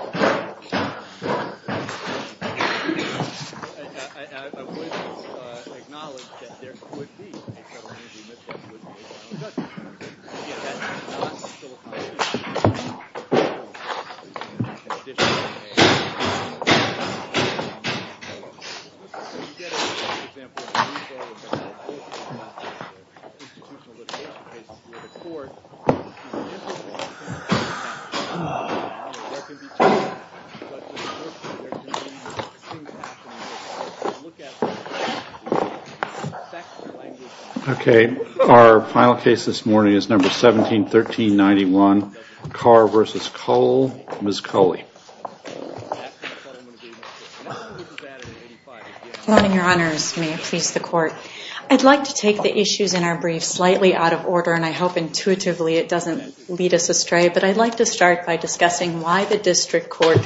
I would acknowledge that there could be a federal entity that would be able to do that. Yet that is not still a possibility. Our final case this morning is number 17-1391. I would like to take the issues in our brief slightly out of order and I hope intuitively it doesn't lead us astray. But I would like to start by discussing why the district court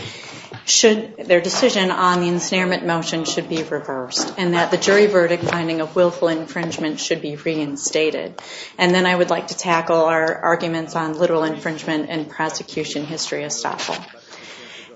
should, their decision on the ensnarement motion should be reversed. And that the jury verdict finding of willful infringement should be reinstated. And then I would like to tackle our arguments on literal infringement and prosecution history estoppel.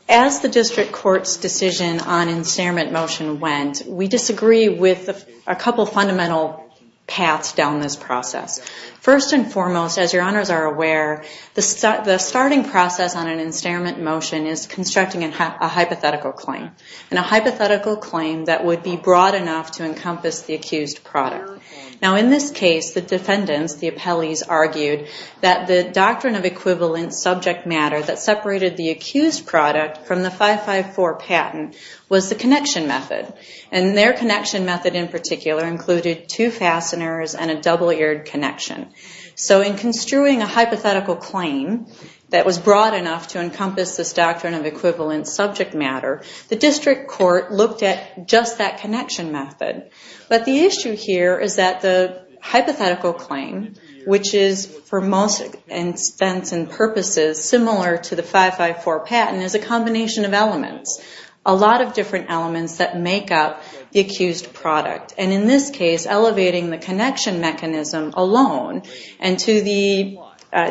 As the district court's decision on ensnarement motion went, we disagree with a couple fundamental paths down this process. First and foremost, as your honors are aware, the starting process on an ensnarement motion is constructing a hypothetical claim. And a hypothetical claim that would be broad enough to encompass the accused product. Now in this case, the defendants, the appellees, argued that the doctrine of equivalent subject matter that separated the accused product from the 554 patent was the connection method. And their connection method in particular included two fasteners and a double-eared connection. So in construing a hypothetical claim that was broad enough to encompass this doctrine of equivalent subject matter, the district court looked at just that connection method. But the issue here is that the hypothetical claim, which is for most intents and purposes similar to the 554 patent, is a combination of elements. A lot of different elements that make up the accused product. And in this case, elevating the connection mechanism alone and to the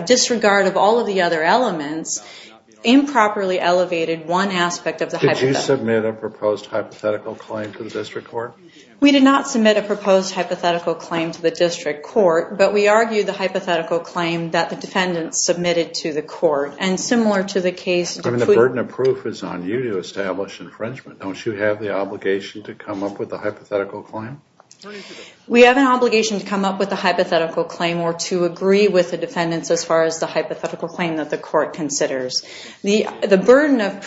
disregard of all of the other elements improperly elevated one aspect of the hypothetical claim. Did you submit a proposed hypothetical claim to the district court? We did not submit a proposed hypothetical claim to the district court. But we argued the hypothetical claim that the defendants submitted to the court. And similar to the case... The burden of proof is on you to establish infringement. Don't you have the obligation to come up with a hypothetical claim? We have an obligation to come up with a hypothetical claim or to agree with the defendants as far as the hypothetical claim that the court considers. The burden of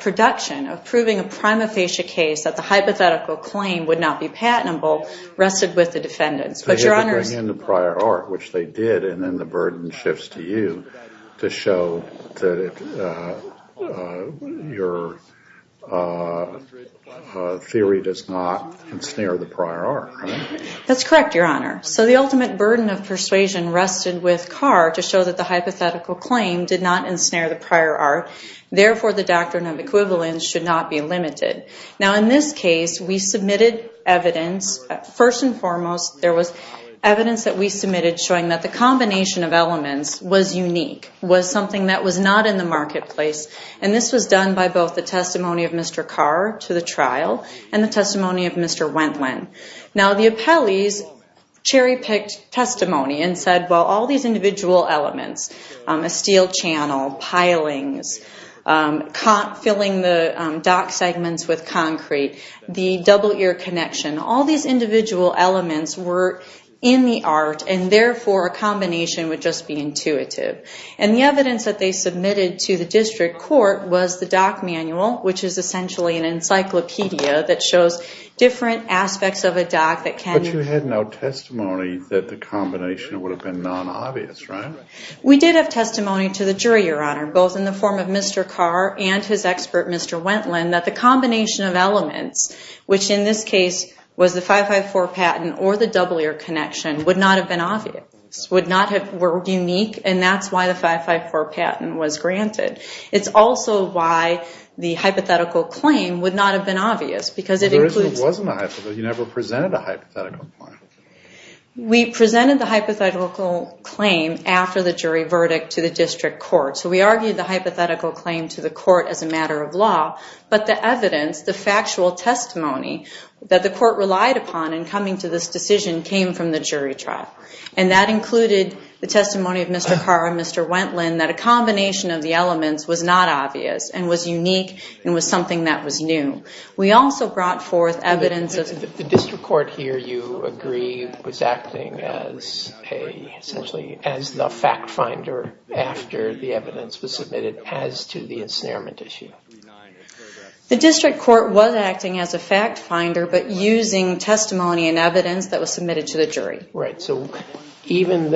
production, of proving a prima facie case that the hypothetical claim would not be patentable rested with the defendants. But, Your Honor... They had to bring in the prior art, which they did. And then the burden shifts to you to show that your theory does not ensnare the prior art. That's correct, Your Honor. So the ultimate burden of persuasion rested with Carr to show that the hypothetical claim did not ensnare the prior art. Therefore, the doctrine of equivalence should not be limited. Now, in this case, we submitted evidence. First and foremost, there was evidence that we submitted showing that the combination of elements was unique, was something that was not in the marketplace. And this was done by both the testimony of Mr. Carr to the trial and the testimony of Mr. Wendland. Now, the appellees cherry-picked testimony and said, well, all these individual elements, a steel channel, pilings, filling the dock segments with concrete, the double-ear connection, all these individual elements were in the art and, therefore, a combination would just be intuitive. And the evidence that they submitted to the district court was the dock manual, which is essentially an encyclopedia that shows different aspects of a dock that can... But you had no testimony that the combination would have been non-obvious, right? We did have testimony to the jury, Your Honor, both in the form of Mr. Carr and his expert, Mr. Wendland, that the combination of elements, which in this case was the 554 patent or the double-ear connection, would not have been obvious, would not have been unique. And that's why the 554 patent was granted. It's also why the hypothetical claim would not have been obvious because it includes... But there wasn't a hypothetical. You never presented a hypothetical claim. We presented the hypothetical claim after the jury verdict to the district court. So we argued the hypothetical claim to the court as a matter of law. But the evidence, the factual testimony that the court relied upon in coming to this decision came from the jury trial. And that included the testimony of Mr. Carr and Mr. Wendland that a combination of the elements was not obvious and was unique and was something that was new. We also brought forth evidence of... The district court here, you agree, was acting as a... essentially as the fact finder after the evidence was submitted as to the ensnarement issue. The district court was acting as a fact finder but using testimony and evidence that was submitted to the jury. Right. So even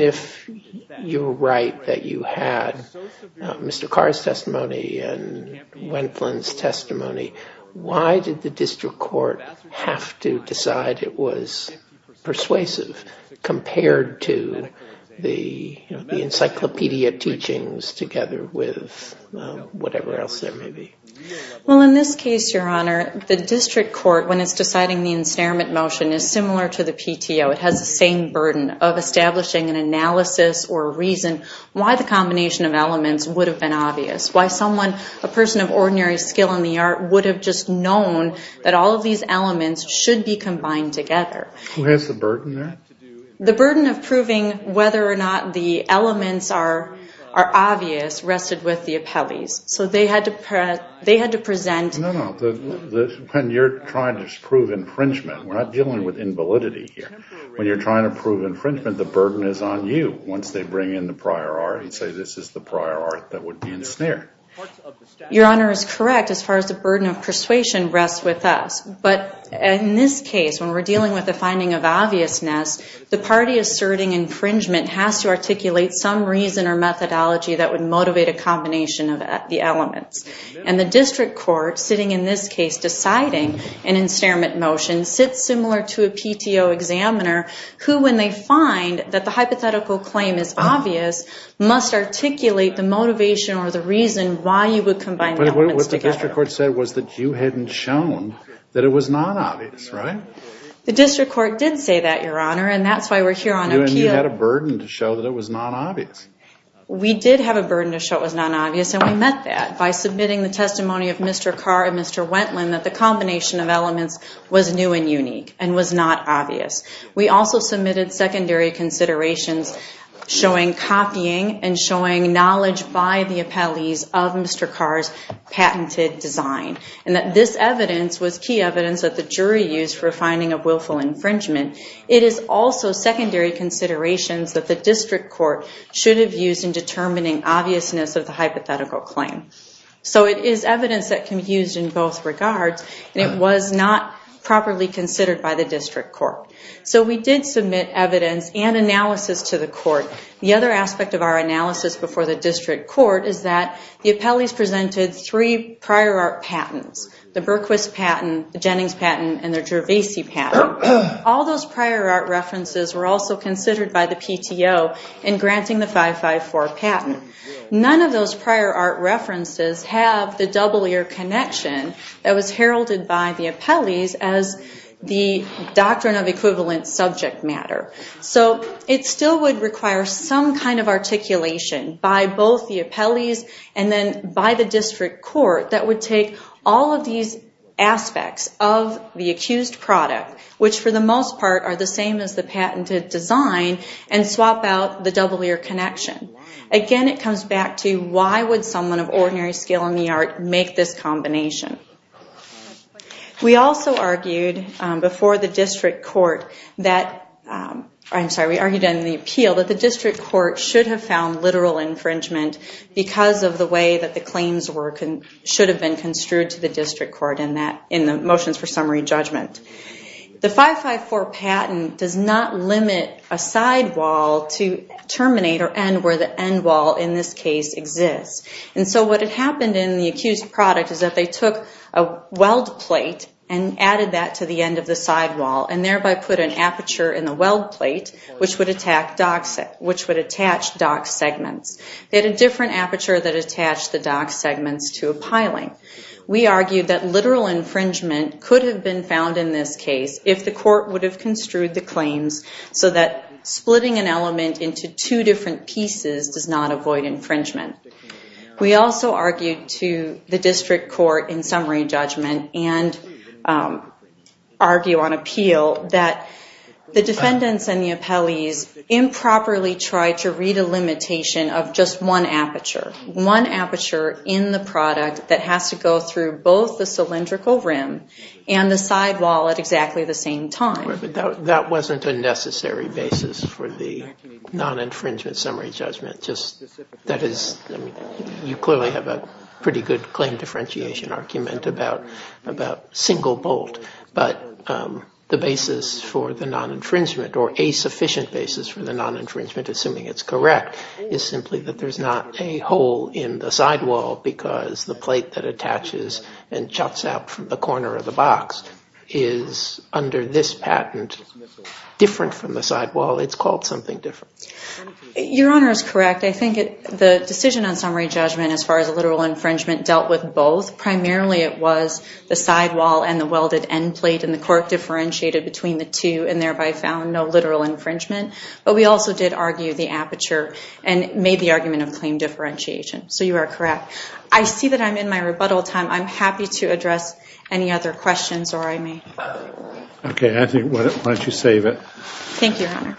if you're right that you had Mr. Carr's testimony and Wendland's testimony, why did the district court have to decide it was persuasive compared to the encyclopedia teachings together with whatever else there may be? Well in this case, your honor, the district court when it's deciding the ensnarement motion is similar to the PTO. It has the same burden of establishing an analysis or a reason why the combination of elements would have been obvious. Why someone, a person of ordinary skill in the art, would have just known that all of these elements should be combined together. What's the burden there? The burden of proving whether or not the elements are obvious rested with the appellees. So they had to present... No, no. When you're trying to prove infringement, we're not dealing with invalidity here. When you're trying to prove infringement, the burden is on you. Once they bring in the prior art and say this is the prior art that would be ensnared. Your honor is correct as far as the burden of persuasion rests with us. But in this case, when we're dealing with the finding of obviousness, the party asserting infringement has to articulate some reason or methodology that would motivate a combination of the elements. And the district court sitting in this case deciding an ensnarement motion sits similar to a PTO examiner who when they find that the hypothetical claim is obvious must articulate the motivation or the reason why you would combine elements together. But what the district court said was that you hadn't shown that it was not obvious, right? The district court did say that, your honor, and that's why we're here on appeal. You had a burden to show that it was not obvious. We did have a burden to show it was not obvious and we met that by submitting the testimony of Mr. Carr and Mr. Wentland that the combination of elements was new and unique and was not obvious. We also submitted secondary considerations showing copying and showing knowledge by the appellees of Mr. Carr's patented design. And that this evidence was key evidence that the jury used for finding a willful infringement. It is also secondary considerations that the district court should have used in determining obviousness of the hypothetical claim. So it is evidence that can be used in both regards and it was not properly considered by the district court. So we did submit evidence and analysis to the court. The other aspect of our analysis before the district court is that the appellees presented three prior art patents. The Berquist patent, the Jennings patent, and the Gervasi patent. All those prior art references were also considered by the PTO in granting the 554 patent. None of those prior art references have the double-ear connection that was heralded by the appellees as the doctrine of equivalent subject matter. So it still would require some kind of articulation by both the appellees and then by the district court that would take all of these aspects of the accused product, which for the most part are the same as the patented design, and swap out the double-ear connection. Again, it comes back to why would someone of ordinary skill in the art make this combination? We also argued before the district court that the district court should have found literal infringement because of the way that the claims should have been construed to the district court in the motions for summary judgment. The 554 patent does not limit a side wall to terminate or end where the end wall in this case exists. And so what had happened in the accused product is that they took a weld plate and added that to the end of the side wall and thereby put an aperture in the weld plate which would attach dock segments. They had a different aperture that attached the dock segments to a piling. We argued that literal infringement could have been found in this case if the court would have construed the claims so that splitting an element into two different pieces does not avoid infringement. We also argued to the district court in summary judgment and argue on appeal that the defendants and the appellees improperly tried to read a limitation of just one aperture. One aperture in the product that has to go through both the cylindrical rim and the side wall at exactly the same time. That wasn't a necessary basis for the non-infringement summary judgment. That is, you clearly have a pretty good claim differentiation argument about single bolt. But the basis for the non-infringement or a sufficient basis for the non-infringement, assuming it's correct, is simply that there's not a hole in the side wall because the plate that attaches and chucks out from the corner of the box is under this patent different from the side wall. It's called something different. Your Honor is correct. I think the decision on summary judgment as far as literal infringement dealt with both. Primarily it was the side wall and the welded end plate and the court differentiated between the two and thereby found no literal infringement. But we also did argue the aperture and made the argument of claim differentiation. So you are correct. I see that I'm in my rebuttal time. I'm happy to address any other questions or I may. Okay. Why don't you save it. Thank you, Your Honor.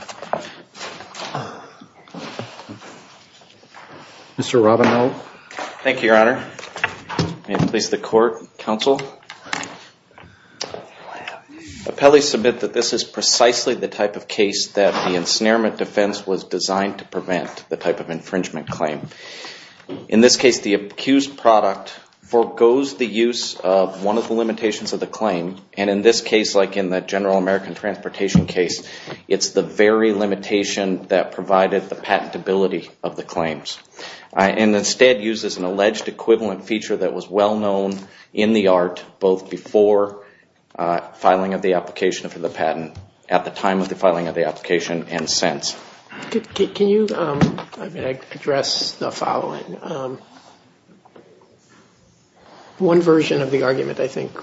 Mr. Robineau. Thank you, Your Honor. May it please the court, counsel. Appellees submit that this is precisely the type of case that the ensnarement defense was designed to prevent, the type of infringement claim. In this case the accused product forgoes the use of one of the limitations of the claim and in this case like in the general American transportation case, it's the very limitation that provided the patentability of the claims and instead uses an alleged equivalent feature that was well known in the art both before filing of the application for the patent, at the time of the filing of the application and since. Can you address the following? One version of the argument I think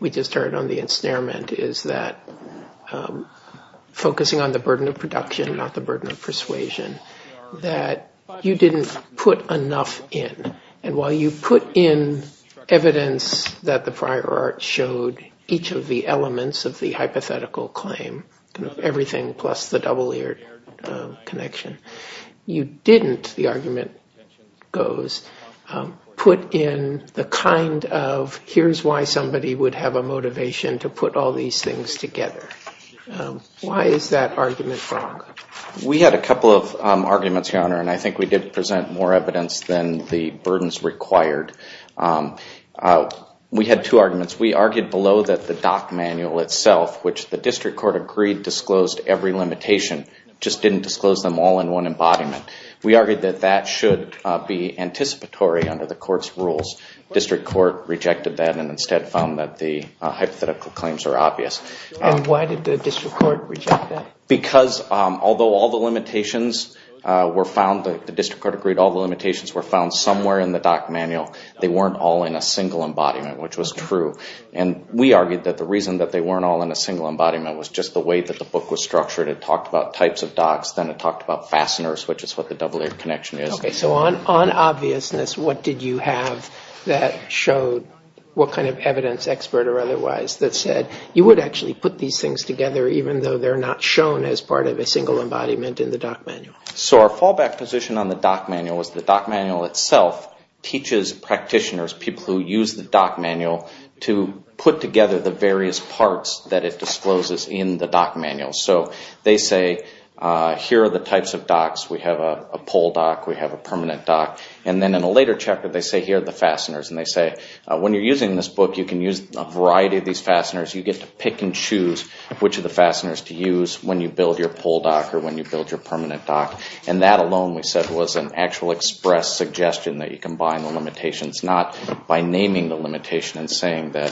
we just heard on the ensnarement is that focusing on the burden of production, not the burden of persuasion, that you didn't put enough in and while you put in evidence that the prior art showed each of the elements of the hypothetical claim, everything plus the double-eared connection, you didn't, the argument goes, put in the kind of here's why somebody would have a motivation to put all these things together. Why is that argument wrong? We had a couple of arguments, Your Honor, and I think we did present more evidence than the burdens required. We had two arguments. We argued below that the doc manual itself, which the district court agreed disclosed every limitation, just didn't disclose them all in one embodiment. We argued that that should be anticipatory under the court's rules. District court rejected that and instead found that the hypothetical claims are obvious. And why did the district court reject that? Because although all the limitations were found, the district court agreed all the limitations were found somewhere in the doc manual, they weren't all in a single embodiment, which was true. And we argued that the reason that they weren't all in a single embodiment was just the way that the book was structured. It talked about types of docs, then it talked about fasteners, which is what the double-eared connection is. Okay, so on obviousness, what did you have that showed what kind of evidence, expert or otherwise, that said you would actually put these things together even though they're not shown as part of a single embodiment in the doc manual? So our fallback position on the doc manual was the doc manual itself teaches practitioners, people who use the doc manual, to put together the various parts that it discloses in the doc manual. So they say, here are the types of docs. We have a pull doc, we have a permanent doc. And then in a later chapter they say, here are the fasteners. And they say, when you're using this book, you can use a variety of these fasteners. You get to pick and choose which of the fasteners to use when you build your pull doc or when you build your permanent doc. And that alone, we said, was an actual express suggestion that you combine the limitations, not by naming the limitation and saying that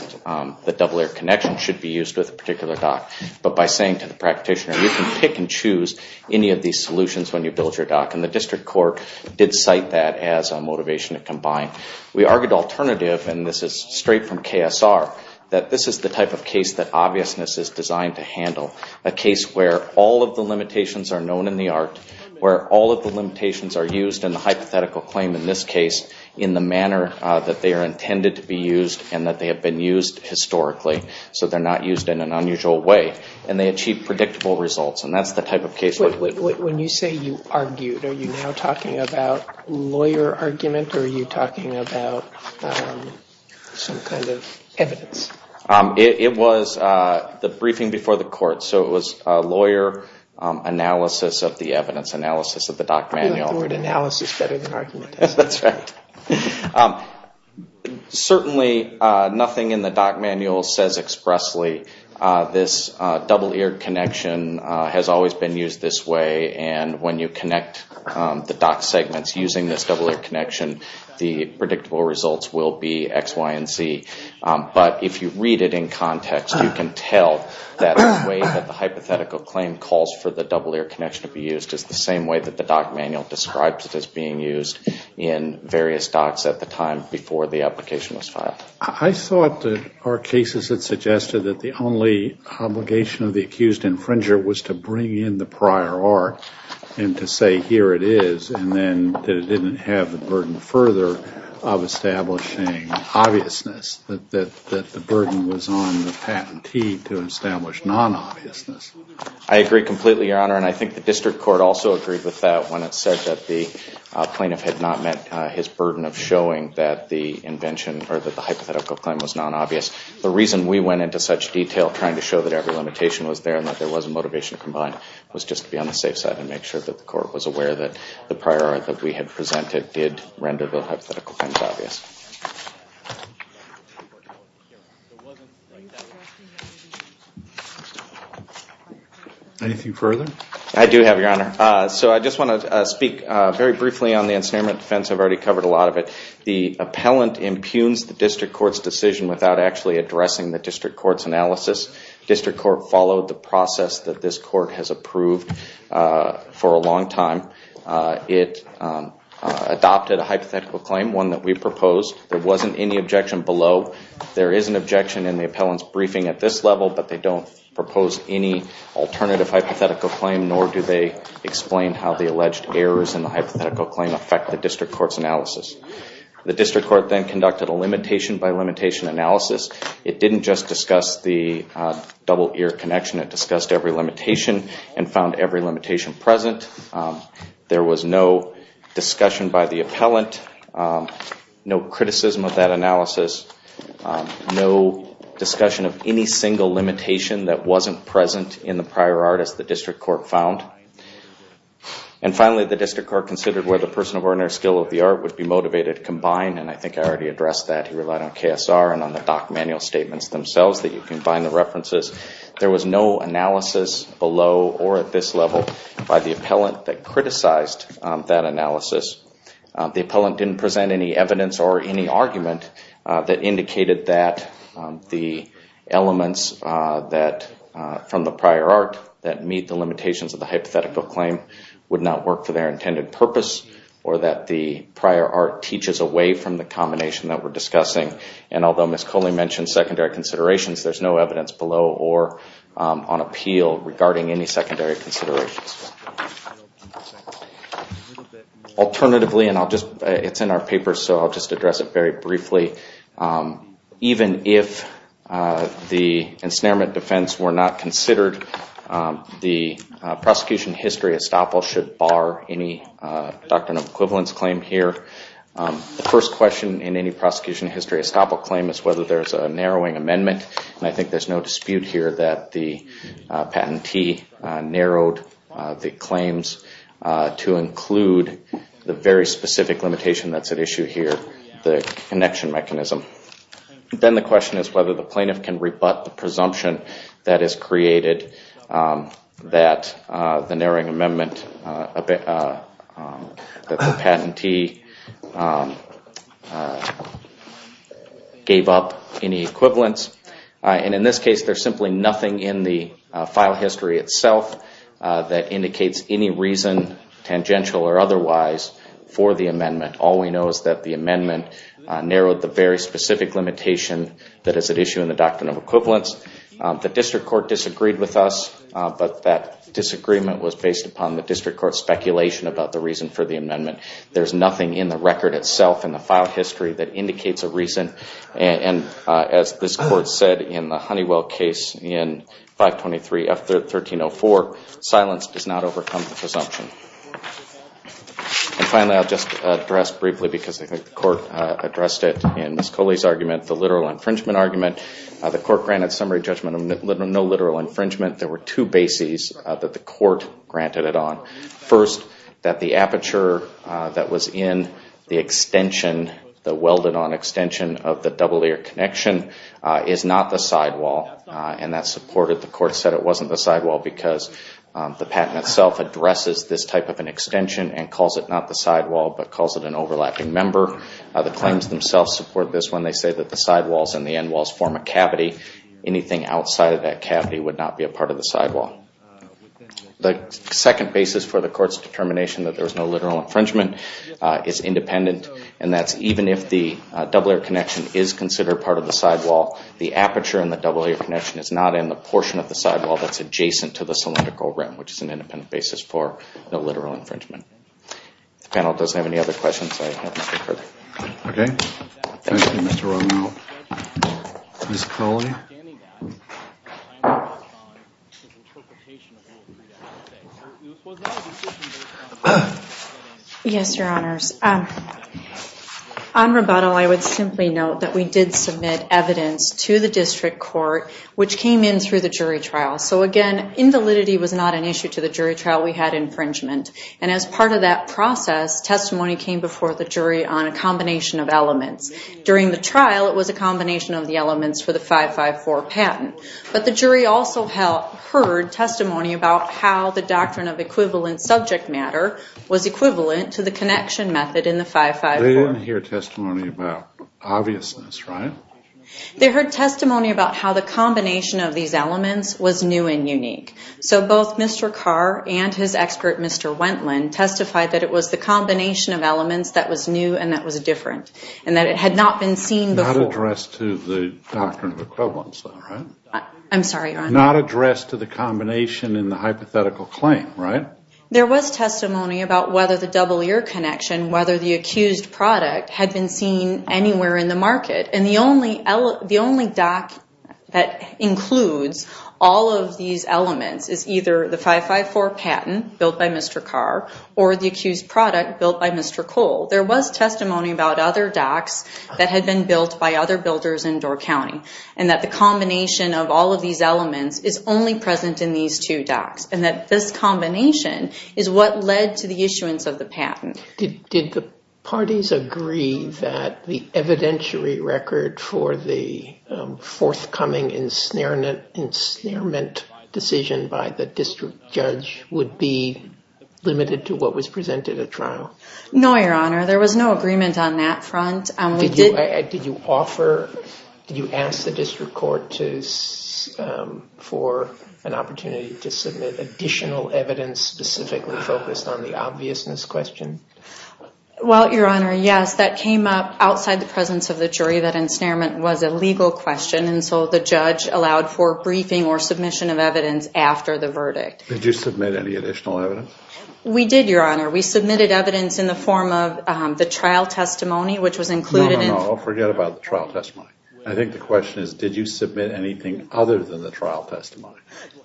the double-eared connection should be used with a particular doc, but by saying to the practitioner, you can pick and choose any of these solutions when you build your doc. And the district court did cite that as a motivation to combine. We argued alternative, and this is straight from KSR, that this is the type of case that obviousness is designed to handle. A case where all of the limitations are known in the art, where all of the limitations are used in the hypothetical claim in this case, in the manner that they are intended to be used and that they have been used historically. So they're not used in an unusual way. And they achieve predictable results. And that's the type of case that we did. When you say you argued, are you now talking about lawyer argument, or are you talking about some kind of evidence? It was the briefing before the court. So it was a lawyer analysis of the evidence, analysis of the doc manual. I like the word analysis better than argument. That's right. Certainly, nothing in the doc manual says expressly, this double-eared connection has always been used this way. And when you connect the doc segments using this double-eared connection, the predictable results will be X, Y, and Z. But if you read it in context, you can tell that the way that the hypothetical claim calls for the double-eared connection to be used is the same way that the doc manual describes it as being used in various docs at the time before the application was filed. I thought that our cases had suggested that the only obligation of the accused infringer was to bring in the prior art and to say, here it is, and then that it didn't have the burden further of establishing obviousness, that the burden was on the patentee to establish non-obviousness. I agree completely, Your Honor. And I think the district court also agreed with that when it said that the plaintiff had not met his burden of showing that the invention or that the hypothetical claim was non-obvious. The reason we went into such detail trying to show that every limitation was there and that there was a motivation combined was just to be on the safe side and make sure that the court was aware that the prior art that we had presented did render the hypothetical claims obvious. Anything further? I do have, Your Honor. So I just want to speak very briefly on the ensnarement offense. I've already covered a lot of it. The appellant impugns the district court's decision without actually addressing the district court's analysis. District court followed the process that this court has approved for a long time. It adopted a hypothetical claim, one that we proposed. There wasn't any objection below. There is an objection in the appellant's briefing at this level, but they don't propose any alternative hypothetical claim, nor do they explain how the alleged errors in the hypothetical claim affect the district court's analysis. The district court then conducted a limitation by limitation analysis. It didn't just discuss the double-eared connection. It discussed every limitation and found every limitation present. There was no discussion by the appellant, no criticism of that analysis, no discussion of any single limitation that wasn't present in the prior art, as the district court found. And finally, the district court considered whether the person of ordinary skill of the art would be motivated combined, and I think I already addressed that. He relied on KSR and on the doc manual statements themselves that you can find the references. There was no analysis below or at this level by the appellant that criticized that analysis. The appellant didn't present any evidence or any argument that indicated that the elements from the prior art that meet the limitations of the hypothetical claim would not work for their intended purpose or that the prior art teaches away from the combination that we're discussing. And although Ms. Coley mentioned secondary considerations, there's no evidence below or on appeal regarding any secondary considerations. Alternatively, and it's in our paper, so I'll just address it very briefly, even if the ensnarement defense were not considered, the prosecution history estoppel should bar any doctrine of equivalence claim here. The first question in any prosecution history estoppel claim is whether there's a narrowing amendment, and I think there's no dispute here that the patentee narrowed the claims to include the very specific limitation that's at issue here, the connection mechanism. Then the question is whether the plaintiff can rebut the presumption that is created that the narrowing amendment, that the patentee gave up any equivalence. And in this case, there's simply nothing in the file history itself that indicates any reason, tangential or otherwise, for the amendment. All we know is that the amendment narrowed the very specific limitation that is at issue in the doctrine of equivalence. The district court disagreed with us, but that disagreement was based upon the district court's speculation about the reason for the amendment. There's nothing in the record itself, in the file history, that indicates a reason. And as this court said in the Honeywell case in 523F1304, silence does not overcome the presumption. And finally, I'll just address briefly, because I think the court addressed it in Ms. Coley's argument, the literal infringement argument. The court granted summary judgment of no literal infringement. There were two bases that the court granted it on. First, that the aperture that was in the extension, the welded-on extension of the double-ear connection, is not the sidewall. And that's supported. The court said it wasn't the sidewall because the patent itself addresses this type of an extension and calls it not the sidewall, but calls it an overlapping member. The claims themselves support this when they say that the sidewalls and the endwalls form a cavity. Anything outside of that cavity would not be a part of the sidewall. The second basis for the court's determination that there was no literal infringement is independent, and that's even if the double-ear connection is considered part of the sidewall, the aperture in the double-ear connection is not in the portion of the sidewall that's adjacent to the cylindrical rim, which is an independent basis for no literal infringement. The panel doesn't have any other questions, so I won't go further. Thank you, Mr. Romero. Ms. Coley? Yes, Your Honors. On rebuttal, I would simply note that we did submit evidence to the district court, which came in through the jury trial. So, again, invalidity was not an issue to the jury trial. We had infringement. And as part of that process, testimony came before the jury on a combination of elements. They didn't hear testimony about obviousness, right? They heard testimony about how the combination of these elements was new and unique. So both Mr. Carr and his expert, Mr. Wendland, testified that it was the combination of elements that was new and that was different, and that it had not been seen before. Not addressed to the doctrine of equivalence, though, right? I'm sorry, Your Honor. Not addressed to the combination in the hypothetical claim, right? There was testimony about whether the double-ear connection, whether the accused product had been seen anywhere in the market. And the only doc that includes all of these elements is either the 554 patent built by Mr. Carr or the accused product built by Mr. Cole. There was testimony about other docs that had been built by other builders in Door County, and that the combination of all of these elements is only present in these two docs, and that this combination is what led to the issuance of the patent. Did the parties agree that the evidentiary record for the forthcoming ensnarement decision by the district judge would be limited to what was presented at trial? No, Your Honor. There was no agreement on that front. Did you ask the district court for an opportunity to submit additional evidence specifically focused on the obviousness question? Well, Your Honor, yes. That came up outside the presence of the jury that ensnarement was a legal question, and so the judge allowed for briefing or submission of evidence after the verdict. Did you submit any additional evidence? We did, Your Honor. We submitted evidence in the form of the trial testimony, which was included in... No, no, no. Forget about the trial testimony. I think the question is, did you submit anything other than the trial testimony?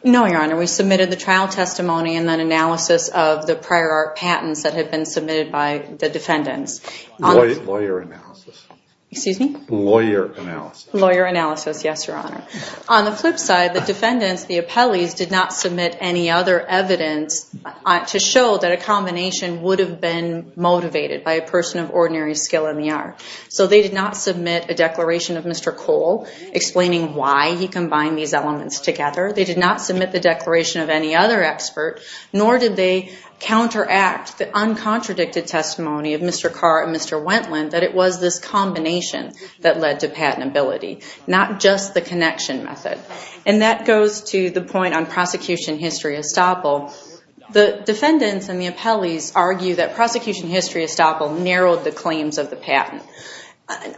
No, Your Honor. We submitted the trial testimony and then analysis of the prior art patents that had been submitted by the defendants. Lawyer analysis. Excuse me? Lawyer analysis. Lawyer analysis, yes, Your Honor. On the flip side, the defendants, the appellees, did not submit any other evidence to show that a combination would have been motivated by a person of ordinary skill in the art. So they did not submit a declaration of Mr. Cole explaining why he combined these elements together. They did not submit the declaration of any other expert, nor did they counteract the uncontradicted testimony of Mr. Carr and Mr. Wendland that it was this combination that led to patentability, not just the connection method. And that goes to the point on prosecution history estoppel. The defendants and the appellees argue that prosecution history estoppel narrowed the claims of the patent.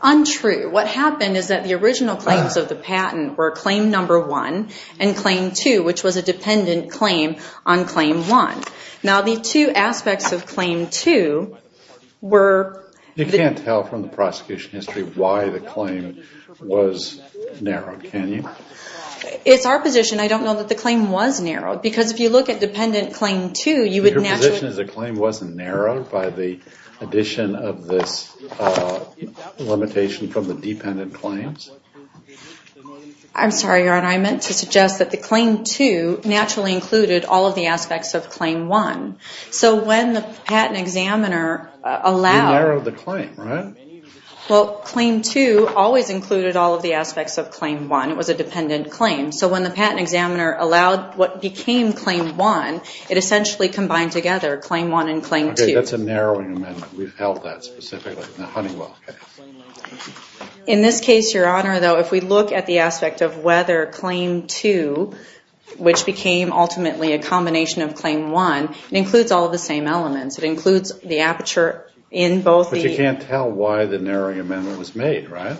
Untrue. What happened is that the original claims of the patent were claim number one and claim two, which was a dependent claim on claim one. Now the two aspects of claim two were... You can't tell from the prosecution history why the claim was narrowed, can you? It's our position. I don't know that the claim was narrowed. Because if you look at dependent claim two, you would naturally... Your position is the claim wasn't narrowed by the addition of this limitation from the dependent claims? I'm sorry, Your Honor. I meant to suggest that the claim two naturally included all of the aspects of claim one. So when the patent examiner allowed... You narrowed the claim, right? Well, claim two always included all of the aspects of claim one. It was a dependent claim. So when the patent examiner allowed what became claim one, it essentially combined together claim one and claim two. Okay, that's a narrowing amendment. We've held that specifically in the Honeywell case. In this case, Your Honor, though, if we look at the aspect of whether claim two, which became ultimately a combination of claim one, it includes all of the same elements. It includes the aperture in both... But you can't tell why the narrowing amendment was made, right?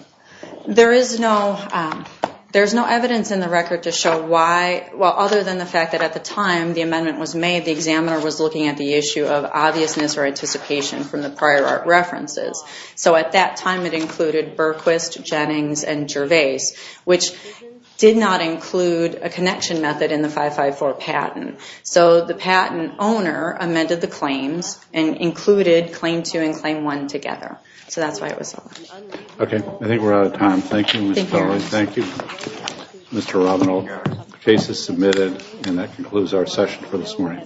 There is no evidence in the record to show why... Well, other than the fact that at the time the amendment was made, the examiner was looking at the issue of obviousness or anticipation from the prior art references. So at that time, it included Berquist, Jennings, and Gervais, which did not include a connection method in the 554 patent. So the patent owner amended the claims and included claim two and claim one together. So that's why it was narrowed. Okay, I think we're out of time. Thank you, Ms. Kelly. Thank you, Mr. Robinow. The case is submitted, and that concludes our session for this morning.